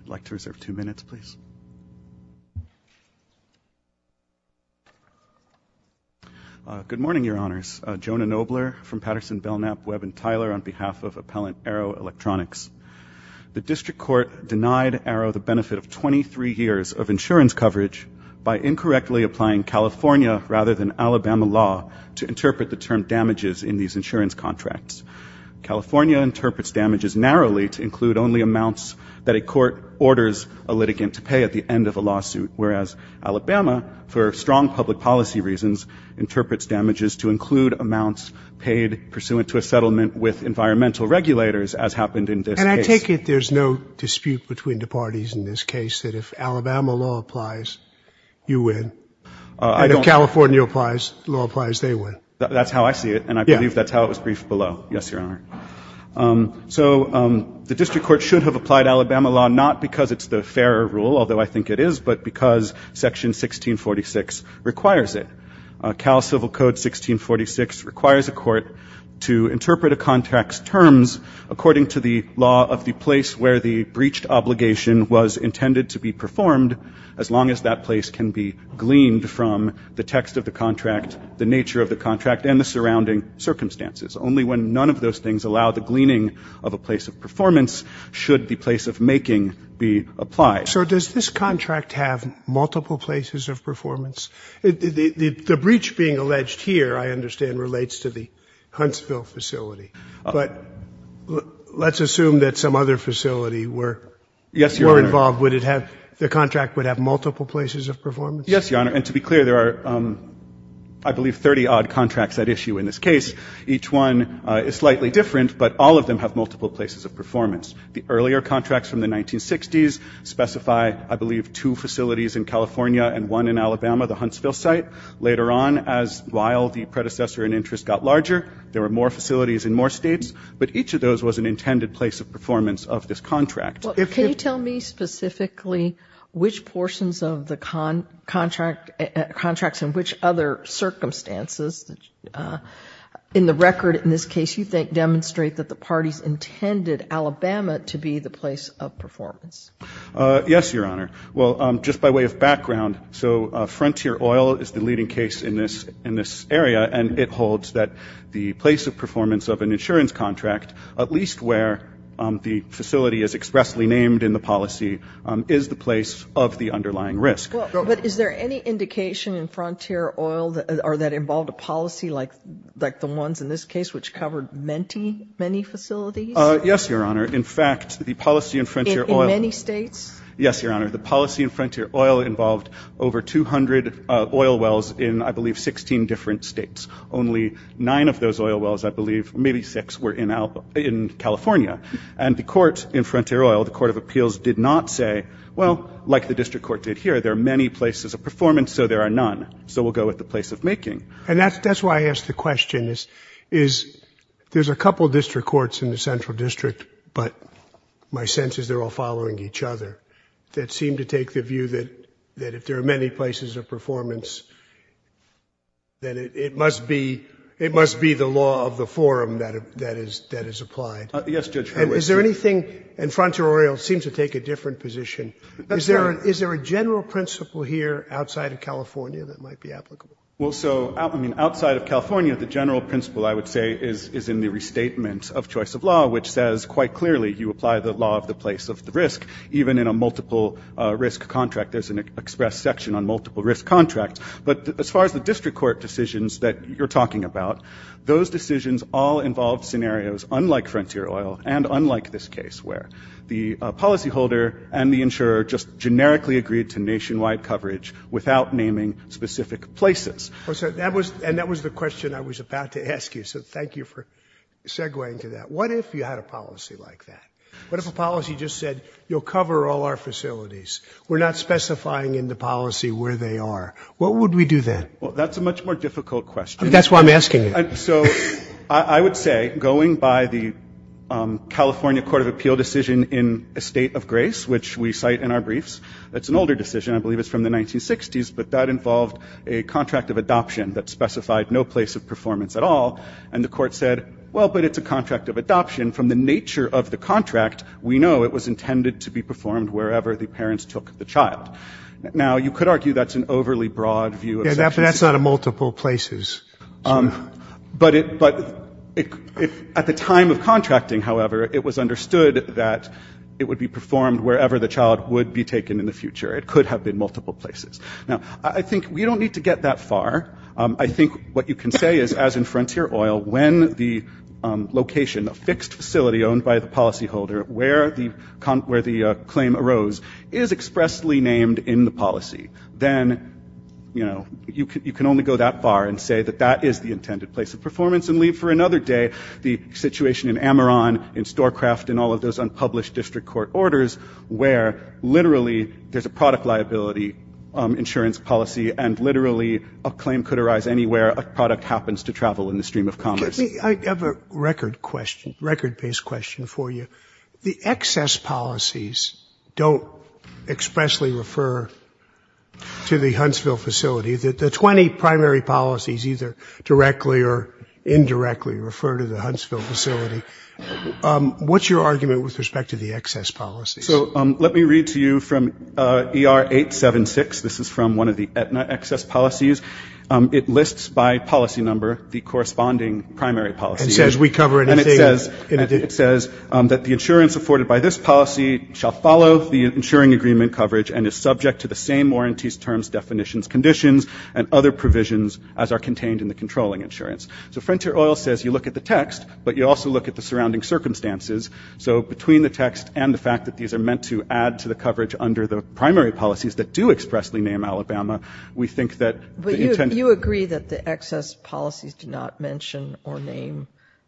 I'd like to reserve two minutes, please. Good morning, Your Honors. Jonah Nobler from Patterson, Belknap, Webb & Tyler on behalf of Appellant Arrow Electronics. The District Court denied Arrow the benefit of 23 years of insurance coverage by incorrectly applying California rather than Alabama law to interpret the term damages in these insurance contracts. California interprets damages narrowly to orders a litigant to pay at the end of a lawsuit, whereas Alabama, for strong public policy reasons, interprets damages to include amounts paid pursuant to a settlement with environmental regulators, as happened in this case. And I take it there's no dispute between the parties in this case that if Alabama law applies, you win, and if California law applies, they win? That's how I see it, and I believe that's how it was briefed below. Yes, Your Honor. So the District Court should have applied Alabama law not because it's the fairer rule, although I think it is, but because Section 1646 requires it. Cal Civil Code 1646 requires a court to interpret a contract's terms according to the law of the place where the breached obligation was intended to be performed, as long as that place can be gleaned from the text of the contract, the nature of the contract, and the surrounding circumstances, only when none of those things allow the gleaning of a place of performance, should the place of making be applied. So does this contract have multiple places of performance? The breach being alleged here, I understand, relates to the Huntsville facility, but let's assume that some other facility were involved, would it have, the contract would have multiple places of performance? Yes, Your Honor, and to be clear, there are, I believe, 30-odd contracts at issue in this case. They're slightly different, but all of them have multiple places of performance. The earlier contracts from the 1960s specify, I believe, two facilities in California and one in Alabama, the Huntsville site. Later on, as, while the predecessor in interest got larger, there were more facilities in more states, but each of those was an intended place of performance of this contract. Well, can you tell me specifically which portions of the contract, contracts in which other circumstances, in the record in this case, you think demonstrate that the parties intended Alabama to be the place of performance? Yes, Your Honor. Well, just by way of background, so Frontier Oil is the leading case in this, in this area, and it holds that the place of performance of an insurance contract, at least where the facility is expressly named in the policy, is the place of the underlying risk. But is there any indication in Frontier Oil that, or that involved a policy like, like the ones in this case, which covered many, many facilities? Yes, Your Honor. In fact, the policy in Frontier Oil In many states? Yes, Your Honor. The policy in Frontier Oil involved over 200 oil wells in, I believe, 16 different states. Only nine of those oil wells, I believe, maybe six, were in Alabama, in California. And the court in Frontier Oil, the Court of Appeals, did not say, well, like the district court did here, there are many places of performance, so there are none. So we'll go with the place of making. And that's, that's why I asked the question, is, is there's a couple district courts in the Central District, but my sense is they're all following each other, that seem to take the view that, that if there are many places of performance, then it, it must be, it must be the law of the forum that, that is, that is applied. Yes, Judge, I wish. Is there anything, and Frontier Oil seems to take a different position, is there, is there a general principle here outside of California that might be applicable? Well, so, I mean, outside of California, the general principle, I would say, is, is in the restatement of choice of law, which says, quite clearly, you apply the law of the place of the risk, even in a multiple risk contract, there's an express section on multiple risk contracts. But as far as the district court decisions that you're talking about, those decisions all involve scenarios, unlike Frontier Oil, and unlike this case, where the policyholder and the insurer just generically agreed to nationwide coverage without naming specific places. Well, so that was, and that was the question I was about to ask you, so thank you for segueing to that. What if you had a policy like that? What if a policy just said, you'll cover all our facilities, we're not specifying in the policy where they are? What would we do then? Well, that's a much more difficult question. That's why I'm asking you. So, I would say, going by the California Court of Appeal decision in a state of grace, which we cite in our briefs, it's an older decision, I believe it's from the 1960s, but that involved a contract of adoption that specified no place of performance at all, and the court said, well, but it's a contract of adoption. From the nature of the contract, we know it was intended to be performed wherever the parents took the child. Now, you could argue that's an overly broad view of sections. But that's not a multiple places. But at the time of contracting, however, it was understood that it would be performed wherever the child would be taken in the future. It could have been multiple places. Now, I think we don't need to get that far. I think what you can say is, as in Frontier Oil, when the location, a fixed facility owned by the policyholder, where the claim arose, is expressly claimed in the policy, then, you know, you can only go that far and say that that is the intended place of performance and leave for another day the situation in Ameron, in Storecraft, in all of those unpublished district court orders where, literally, there's a product liability insurance policy and, literally, a claim could arise anywhere a product happens to travel in the stream of commerce. Let me, I have a record question, record-based question for you. The excess policies don't expressly refer to the Huntsville facility. The 20 primary policies, either directly or indirectly, refer to the Huntsville facility. What's your argument with respect to the excess policies? So, let me read to you from ER 876. This is from one of the Aetna excess policies. It is the 20 primary policies. And says we cover it in a day. And it says that the insurance afforded by this policy shall follow the insuring agreement coverage and is subject to the same warranties, terms, definitions, conditions, and other provisions as are contained in the controlling insurance. So Frontier Oil says you look at the text, but you also look at the surrounding circumstances. So between the text and the fact that these are meant to add to the coverage under the primary policies that do expressly name Alabama, we think that the intent Do you agree that the excess policies do not mention or name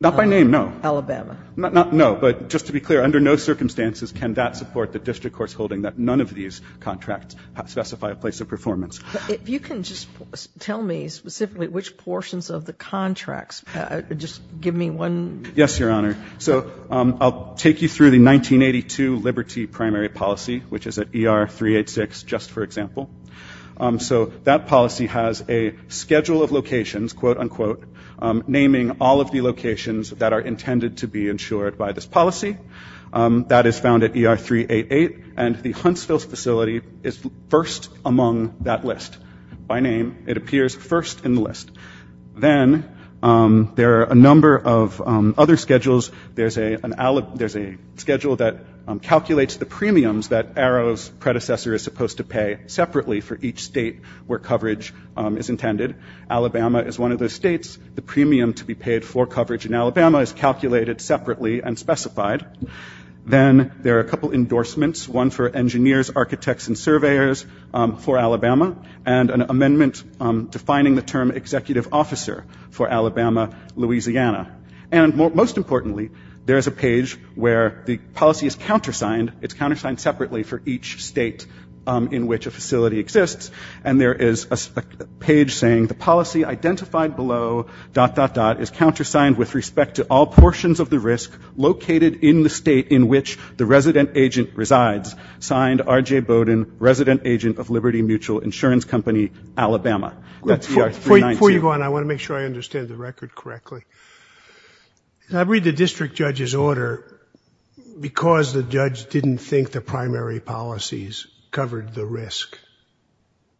Alabama? Not by name, no. No, but just to be clear, under no circumstances can that support the district court's holding that none of these contracts specify a place of performance. If you can just tell me specifically which portions of the contracts, just give me one Yes, Your Honor. So I'll take you through the 1982 Liberty primary policy, which is a schedule of locations, quote, unquote, naming all of the locations that are intended to be insured by this policy. That is found at ER 388, and the Huntsville facility is first among that list. By name, it appears first in the list. Then there are a number of other schedules. There's a schedule that calculates the premiums that Arrow's predecessor is supposed to pay separately for each state where coverage is intended. Alabama is one of those states. The premium to be paid for coverage in Alabama is calculated separately and specified. Then there are a couple endorsements, one for engineers, architects, and surveyors for Alabama, and an amendment defining the term executive officer for Alabama, Louisiana. And most importantly, there is a page where the policy is countersigned. It's countersigned in which a facility exists, and there is a page saying the policy identified below, dot, dot, dot, is countersigned with respect to all portions of the risk located in the state in which the resident agent resides. Signed, R.J. Bowden, resident agent of Liberty Mutual Insurance Company, Alabama. That's ER 319. Before you go on, I want to make sure I understand the record correctly. I read the district judge's order because the judge didn't think the primary policies covered the risk,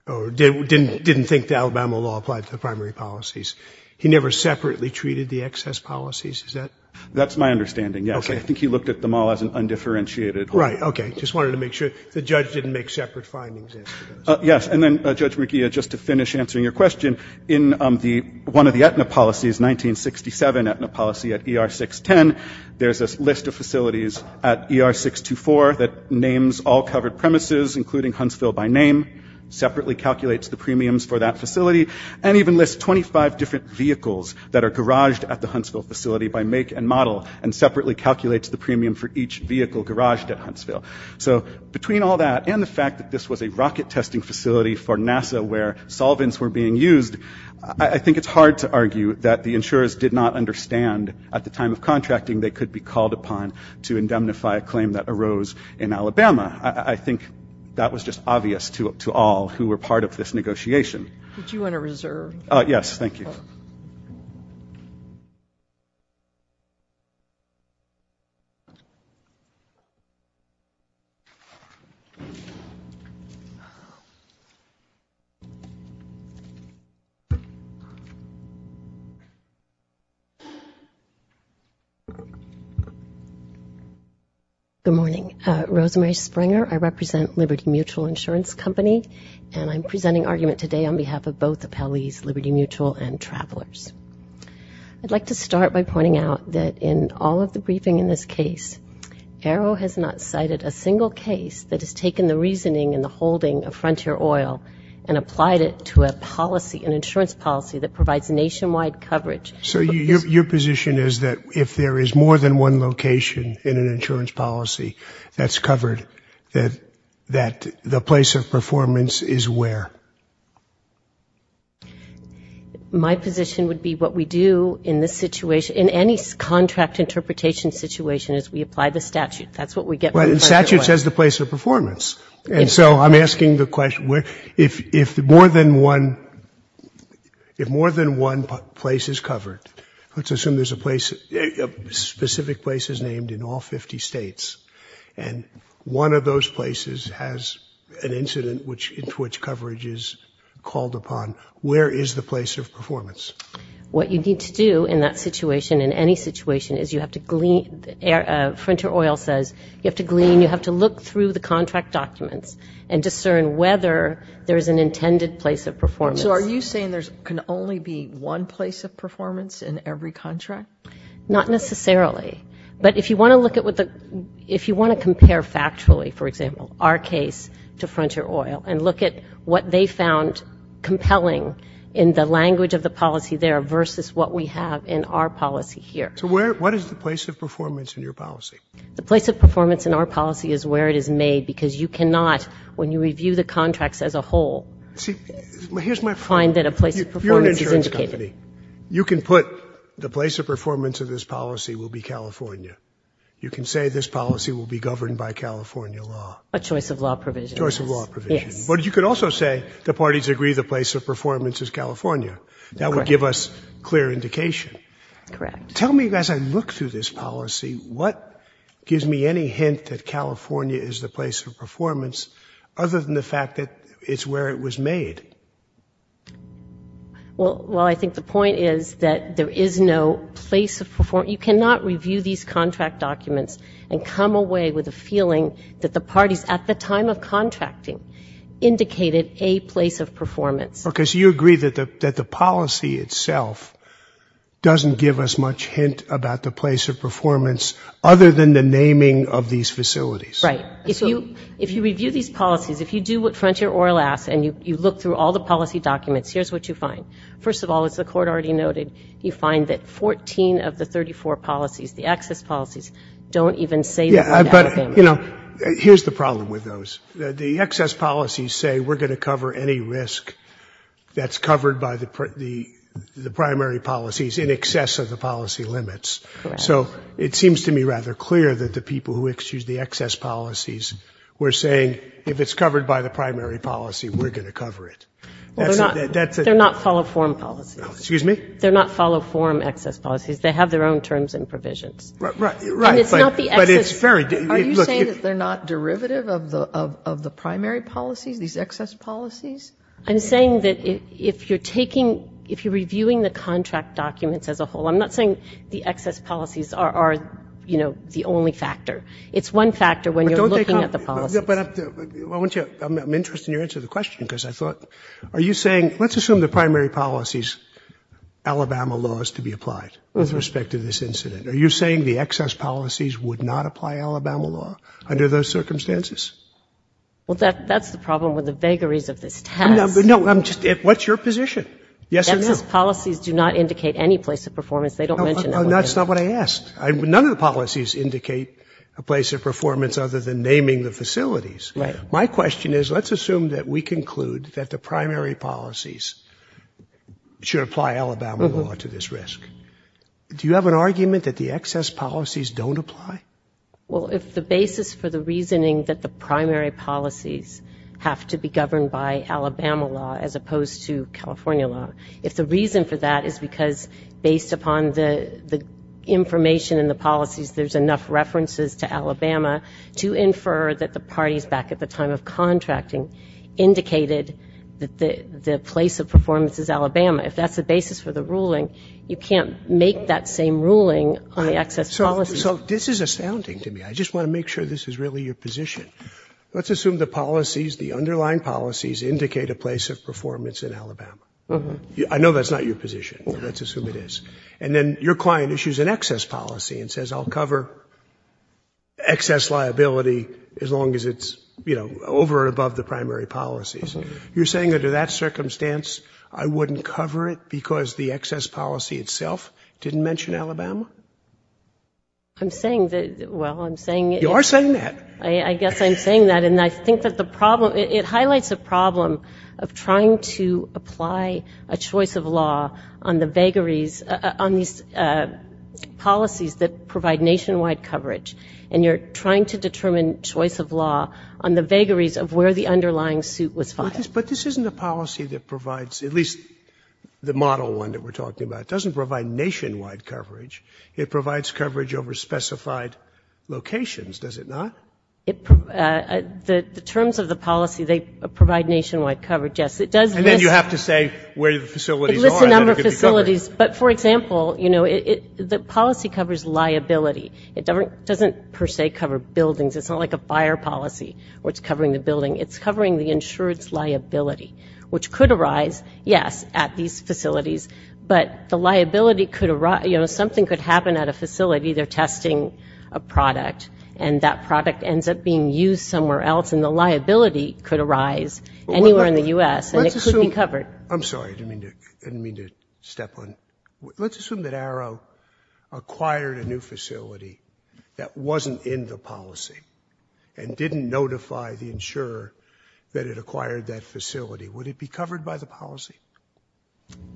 or didn't think the Alabama law applied to the primary policies. He never separately treated the excess policies, is that? That's my understanding, yes. I think he looked at them all as an undifferentiated whole. Right, okay. Just wanted to make sure. The judge didn't make separate findings after those. Yes, and then, Judge McGeehan, just to finish answering your question, in one of the Aetna policies, 1967 Aetna policy at ER 610, there's a list of facilities at ER 624 that names all covered premises, including Huntsville by name, separately calculates the premiums for that facility, and even lists 25 different vehicles that are garaged at the Huntsville facility by make and model, and separately calculates the premium for each vehicle garaged at Huntsville. So, between all that and the fact that this was a rocket testing facility for NASA where solvents were being used, I think it's hard to argue that the insurers did not understand at the time of contracting they could be called upon to indemnify a claim that arose in Alabama. I think that was just obvious to all who were part of this negotiation. Did you want to reserve? Yes, thank you. Good morning, Rosemary Springer, I represent Liberty Mutual Insurance Company, and I'm presenting argument today on behalf of both appellees, Liberty Mutual and Travelers. I'd like to start by pointing out that in all of the briefing in this case, Arrow has not cited a single case that has taken the reasoning and the holding of Frontier Oil and applied it to a policy, an insurance policy that provides nationwide coverage. So your position is that if there is more than one location in an insurance policy that's covered, that the place of performance is where? My position would be what we do in this situation, in any contract interpretation situation is we apply the statute. That's what we get when we apply the statute. Which has the place of performance. And so I'm asking the question, if more than one place is covered, let's assume there's a specific place that's named in all 50 states, and one of those places has an incident which coverage is called upon, where is the place of performance? What you need to do in that situation, in any situation, is you have to glean, Frontier Oil, look through the contract documents and discern whether there's an intended place of performance. So are you saying there can only be one place of performance in every contract? Not necessarily. But if you want to compare factually, for example, our case to Frontier Oil, and look at what they found compelling in the language of the policy there versus what we have in our policy here. So what is the place of performance in your policy? The place of performance in our policy is where it is made, because you cannot, when you review the contracts as a whole, find that a place of performance is indicated. You're an insurance company. You can put the place of performance of this policy will be California. You can say this policy will be governed by California law. A choice of law provision. Choice of law provision. Yes. But you could also say the parties agree the place of performance is California. Correct. That would give us clear indication. Correct. So tell me, as I look through this policy, what gives me any hint that California is the place of performance, other than the fact that it's where it was made? Well, I think the point is that there is no place of performance. You cannot review these contract documents and come away with a feeling that the parties at the time of contracting indicated a place of performance. Okay. So you agree that the policy itself doesn't give us much hint about the place of performance, other than the naming of these facilities. Right. If you review these policies, if you do what Frontier Oil asks and you look through all the policy documents, here's what you find. First of all, as the Court already noted, you find that 14 of the 34 policies, the excess policies, don't even say the word out of ambition. Yeah, but, you know, here's the problem with those. The excess policies say we're going to cover any risk that's covered by the primary policies in excess of the policy limits. Correct. So it seems to me rather clear that the people who excuse the excess policies were saying, if it's covered by the primary policy, we're going to cover it. Well, they're not follow-form policies. Excuse me? They're not follow-form excess policies. They have their own terms and provisions. Right. And it's not the excess. Are you saying that they're not derivative of the primary policies, these excess policies? I'm saying that if you're taking, if you're reviewing the contract documents as a whole, I'm not saying the excess policies are, you know, the only factor. It's one factor when you're looking at the policies. I'm interested in your answer to the question because I thought, are you saying, let's assume the primary policy's Alabama laws to be applied with respect to this incident. Are you saying the excess policies would not apply Alabama law under those circumstances? Well, that's the problem with the vagaries of this test. No, I'm just, what's your position? Yes or no? Excess policies do not indicate any place of performance. They don't mention that. No, that's not what I asked. None of the policies indicate a place of performance other than naming the facilities. Right. My question is, let's assume that we conclude that the primary policies should apply Alabama law to this risk. Do you have an argument that the excess policies don't apply? Well, if the basis for the reasoning that the primary policies have to be governed by Alabama law as opposed to California law, if the reason for that is because based upon the information and the policies, there's enough references to Alabama to infer that the parties back at the time of contracting indicated that the place of performance is Alabama. If that's the basis for the ruling, you can't make that same ruling on the excess policies. So this is astounding to me. I just want to make sure this is really your position. Let's assume the policies, the underlying policies, indicate a place of performance in Alabama. I know that's not your position. Let's assume it is. And then your client issues an excess policy and says, I'll cover excess liability as long as it's, you know, over and above the primary policies. You're saying that under that circumstance, I wouldn't cover it because the excess policy itself didn't mention Alabama? I'm saying that, well, I'm saying that. You are saying that. I guess I'm saying that. And I think that the problem, it highlights a problem of trying to apply a choice of law on the vagaries, on these policies that provide nationwide coverage. And you're trying to determine choice of law on the vagaries of where the coverage is. But this isn't a policy that provides, at least the model one that we're talking about, doesn't provide nationwide coverage. It provides coverage over specified locations, does it not? The terms of the policy, they provide nationwide coverage, yes. And then you have to say where the facilities are. It lists a number of facilities. But, for example, you know, the policy covers liability. It doesn't per se cover buildings. It's not like a fire policy where it's covering the building. It's covering the insured's liability, which could arise, yes, at these facilities, but the liability could arise, you know, something could happen at a facility. They're testing a product and that product ends up being used somewhere else and the liability could arise anywhere in the U.S. and it could be covered. I'm sorry. I didn't mean to step on. Let's assume that Arrow acquired a new facility that wasn't in the policy and didn't notify the insurer that it acquired that facility. Would it be covered by the policy?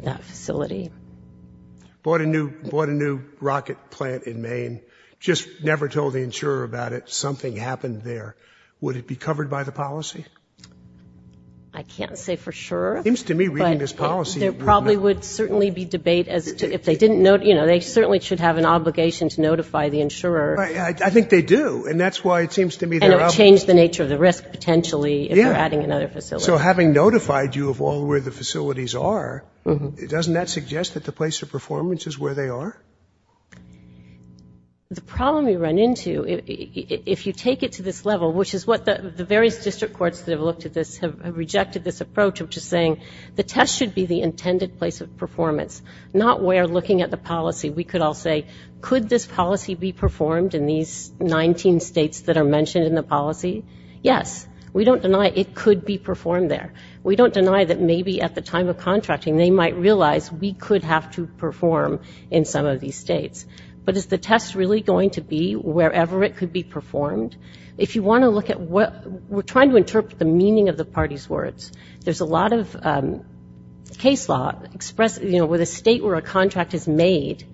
That facility. Bought a new rocket plant in Maine, just never told the insurer about it, something happened there. Would it be covered by the policy? I can't say for sure. It seems to me reading this policy. There probably would certainly be debate as to if they didn't, you know, they certainly should have an obligation to notify the insurer. I think they do. And that's why it seems to me they're out. And it would change the nature of the risk potentially if they're adding another facility. So having notified you of all where the facilities are, doesn't that suggest that the place of performance is where they are? The problem we run into, if you take it to this level, which is what the various district courts that have looked at this have rejected this approach of just saying the test should be the intended place of performance, not where looking at the policy. We could all say, could this policy be performed in these 19 states that are mentioned in the policy? Yes. We don't deny it could be performed there. We don't deny that maybe at the time of contracting they might realize we could have to perform in some of these states. But is the test really going to be wherever it could be performed? If you want to look at what we're trying to interpret the meaning of the party's words, there's a lot of case law expressed, you know, where the state where a contract is made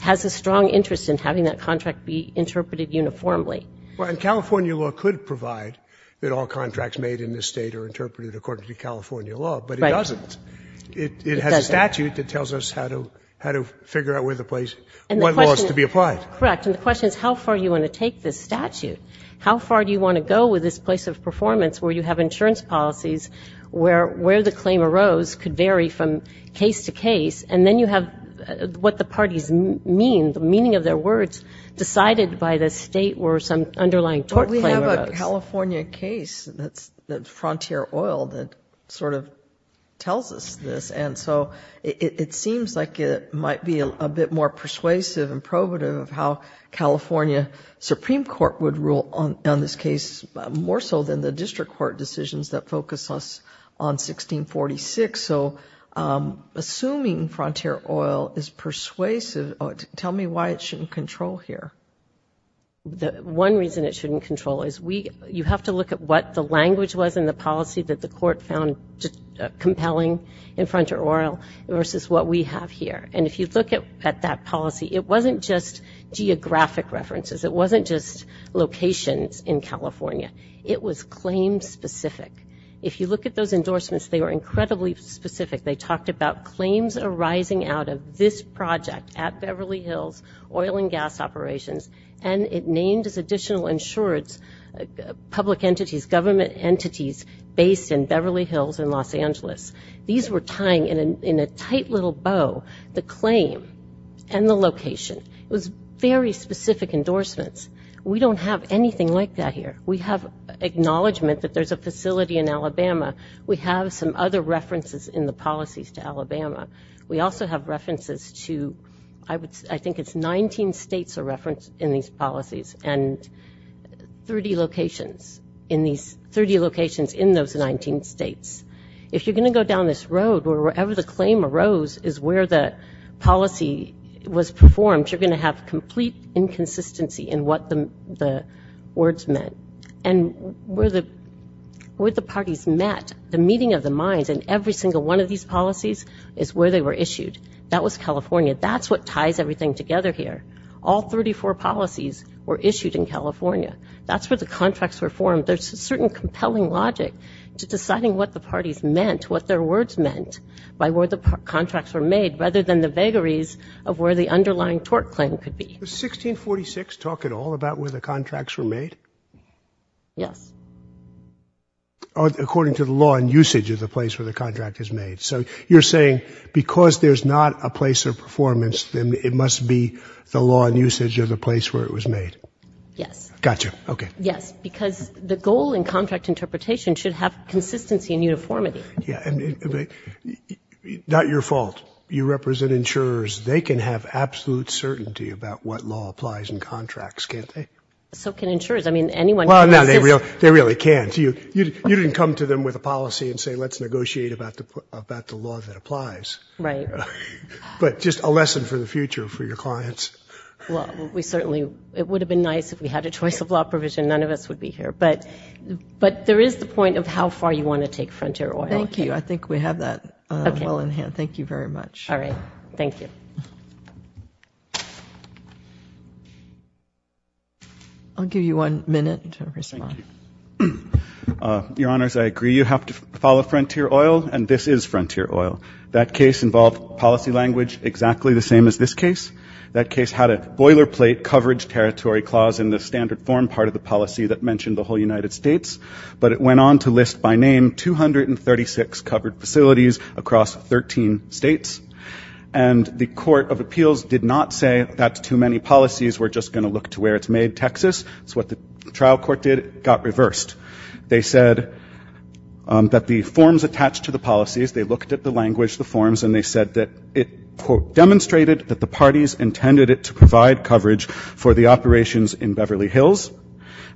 has a strong interest in having that contract be interpreted uniformly. And California law could provide that all contracts made in this state are interpreted according to California law, but it doesn't. It has a statute that tells us how to figure out where the place, what laws to be applied. Correct. And the question is how far do you want to take this statute? How far do you want to go with this place of performance where you have insurance policies where the claim arose could vary from case to case, and then you have what the parties mean, the meaning of their words, decided by the state where some underlying tort claim arose. But we have a California case that's Frontier Oil that sort of tells us this. And so it seems like it might be a bit more persuasive and probative of how California Supreme Court would rule on this case, more so than the district court decisions that focus us on 1646. So assuming Frontier Oil is persuasive, tell me why it shouldn't control here. One reason it shouldn't control is we, you have to look at what the language was in the policy that the court found compelling in Frontier Oil versus what we have here. And if you look at that policy, it wasn't just geographic references. It wasn't just locations in California. It was claim-specific. If you look at those endorsements, they were incredibly specific. They talked about claims arising out of this project at Beverly Hills Oil and Gas Operations, and it named as additional insurance public entities, government entities based in Beverly Hills and Los Angeles. These were tying in a tight little bow the claim and the location. It was very specific endorsements. We don't have anything like that here. We have acknowledgment that there's a facility in Alabama. We have some other references in the policies to Alabama. We also have references to, I think it's 19 states are referenced in these policies, and 30 locations in those 19 states. If you're going to go down this road, or wherever the claim arose is where the policy was performed, you're going to have complete inconsistency in what the words meant. And where the parties met, the meeting of the minds in every single one of these policies is where they were issued. That was California. That's what ties everything together here. All 34 policies were issued in California. That's where the contracts were formed. There's a certain compelling logic to deciding what the parties meant, what their words meant, by where the contracts were made, rather than the vagaries of where the underlying tort claim could be. Was 1646 talk at all about where the contracts were made? Yes. According to the law and usage of the place where the contract is made. So you're saying because there's not a place of performance, then it must be the law and usage of the place where it was made? Yes. Got you. Okay. Yes, because the goal in contract interpretation should have consistency and uniformity. Yeah. Not your fault. You represent insurers. They can have absolute certainty about what law applies in contracts, can't they? So can insurers. I mean, anyone can. Well, no, they really can't. You didn't come to them with a policy and say, let's negotiate about the law that applies. Right. But just a lesson for the future for your clients. Well, we certainly – it would have been nice if we had a choice of law provision. None of us would be here. But there is the point of how far you want to take Frontier Oil. Thank you. I think we have that well in hand. Thank you very much. All right. Thank you. I'll give you one minute to respond. Thank you. Your Honors, I agree. You have to follow Frontier Oil, and this is Frontier Oil. That case involved policy language exactly the same as this case. That case had a boilerplate coverage territory clause in the standard form part of the policy that mentioned the whole United States. But it went on to list by name 236 covered facilities across 13 states. And the Court of Appeals did not say that's too many policies, we're just going to look to where it's made, Texas. That's what the trial court did. It got reversed. They said that the forms attached to the policies, they looked at the language, the forms, and they said that it, quote, demonstrated that the parties intended it to provide coverage for the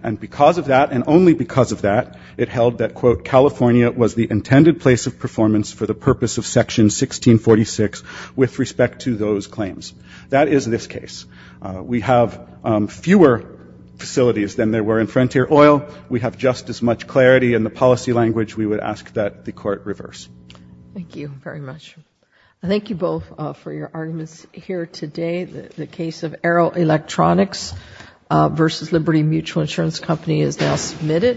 And because of that, and only because of that, it held that, quote, California was the intended place of performance for the purpose of Section 1646 with respect to those claims. That is this case. We have fewer facilities than there were in Frontier Oil. We have just as much clarity in the policy language. We would ask that the court reverse. Thank you very much. I thank you both for your arguments here today. The case of Arrow Electronics versus Liberty Mutual Insurance Company is now submitted.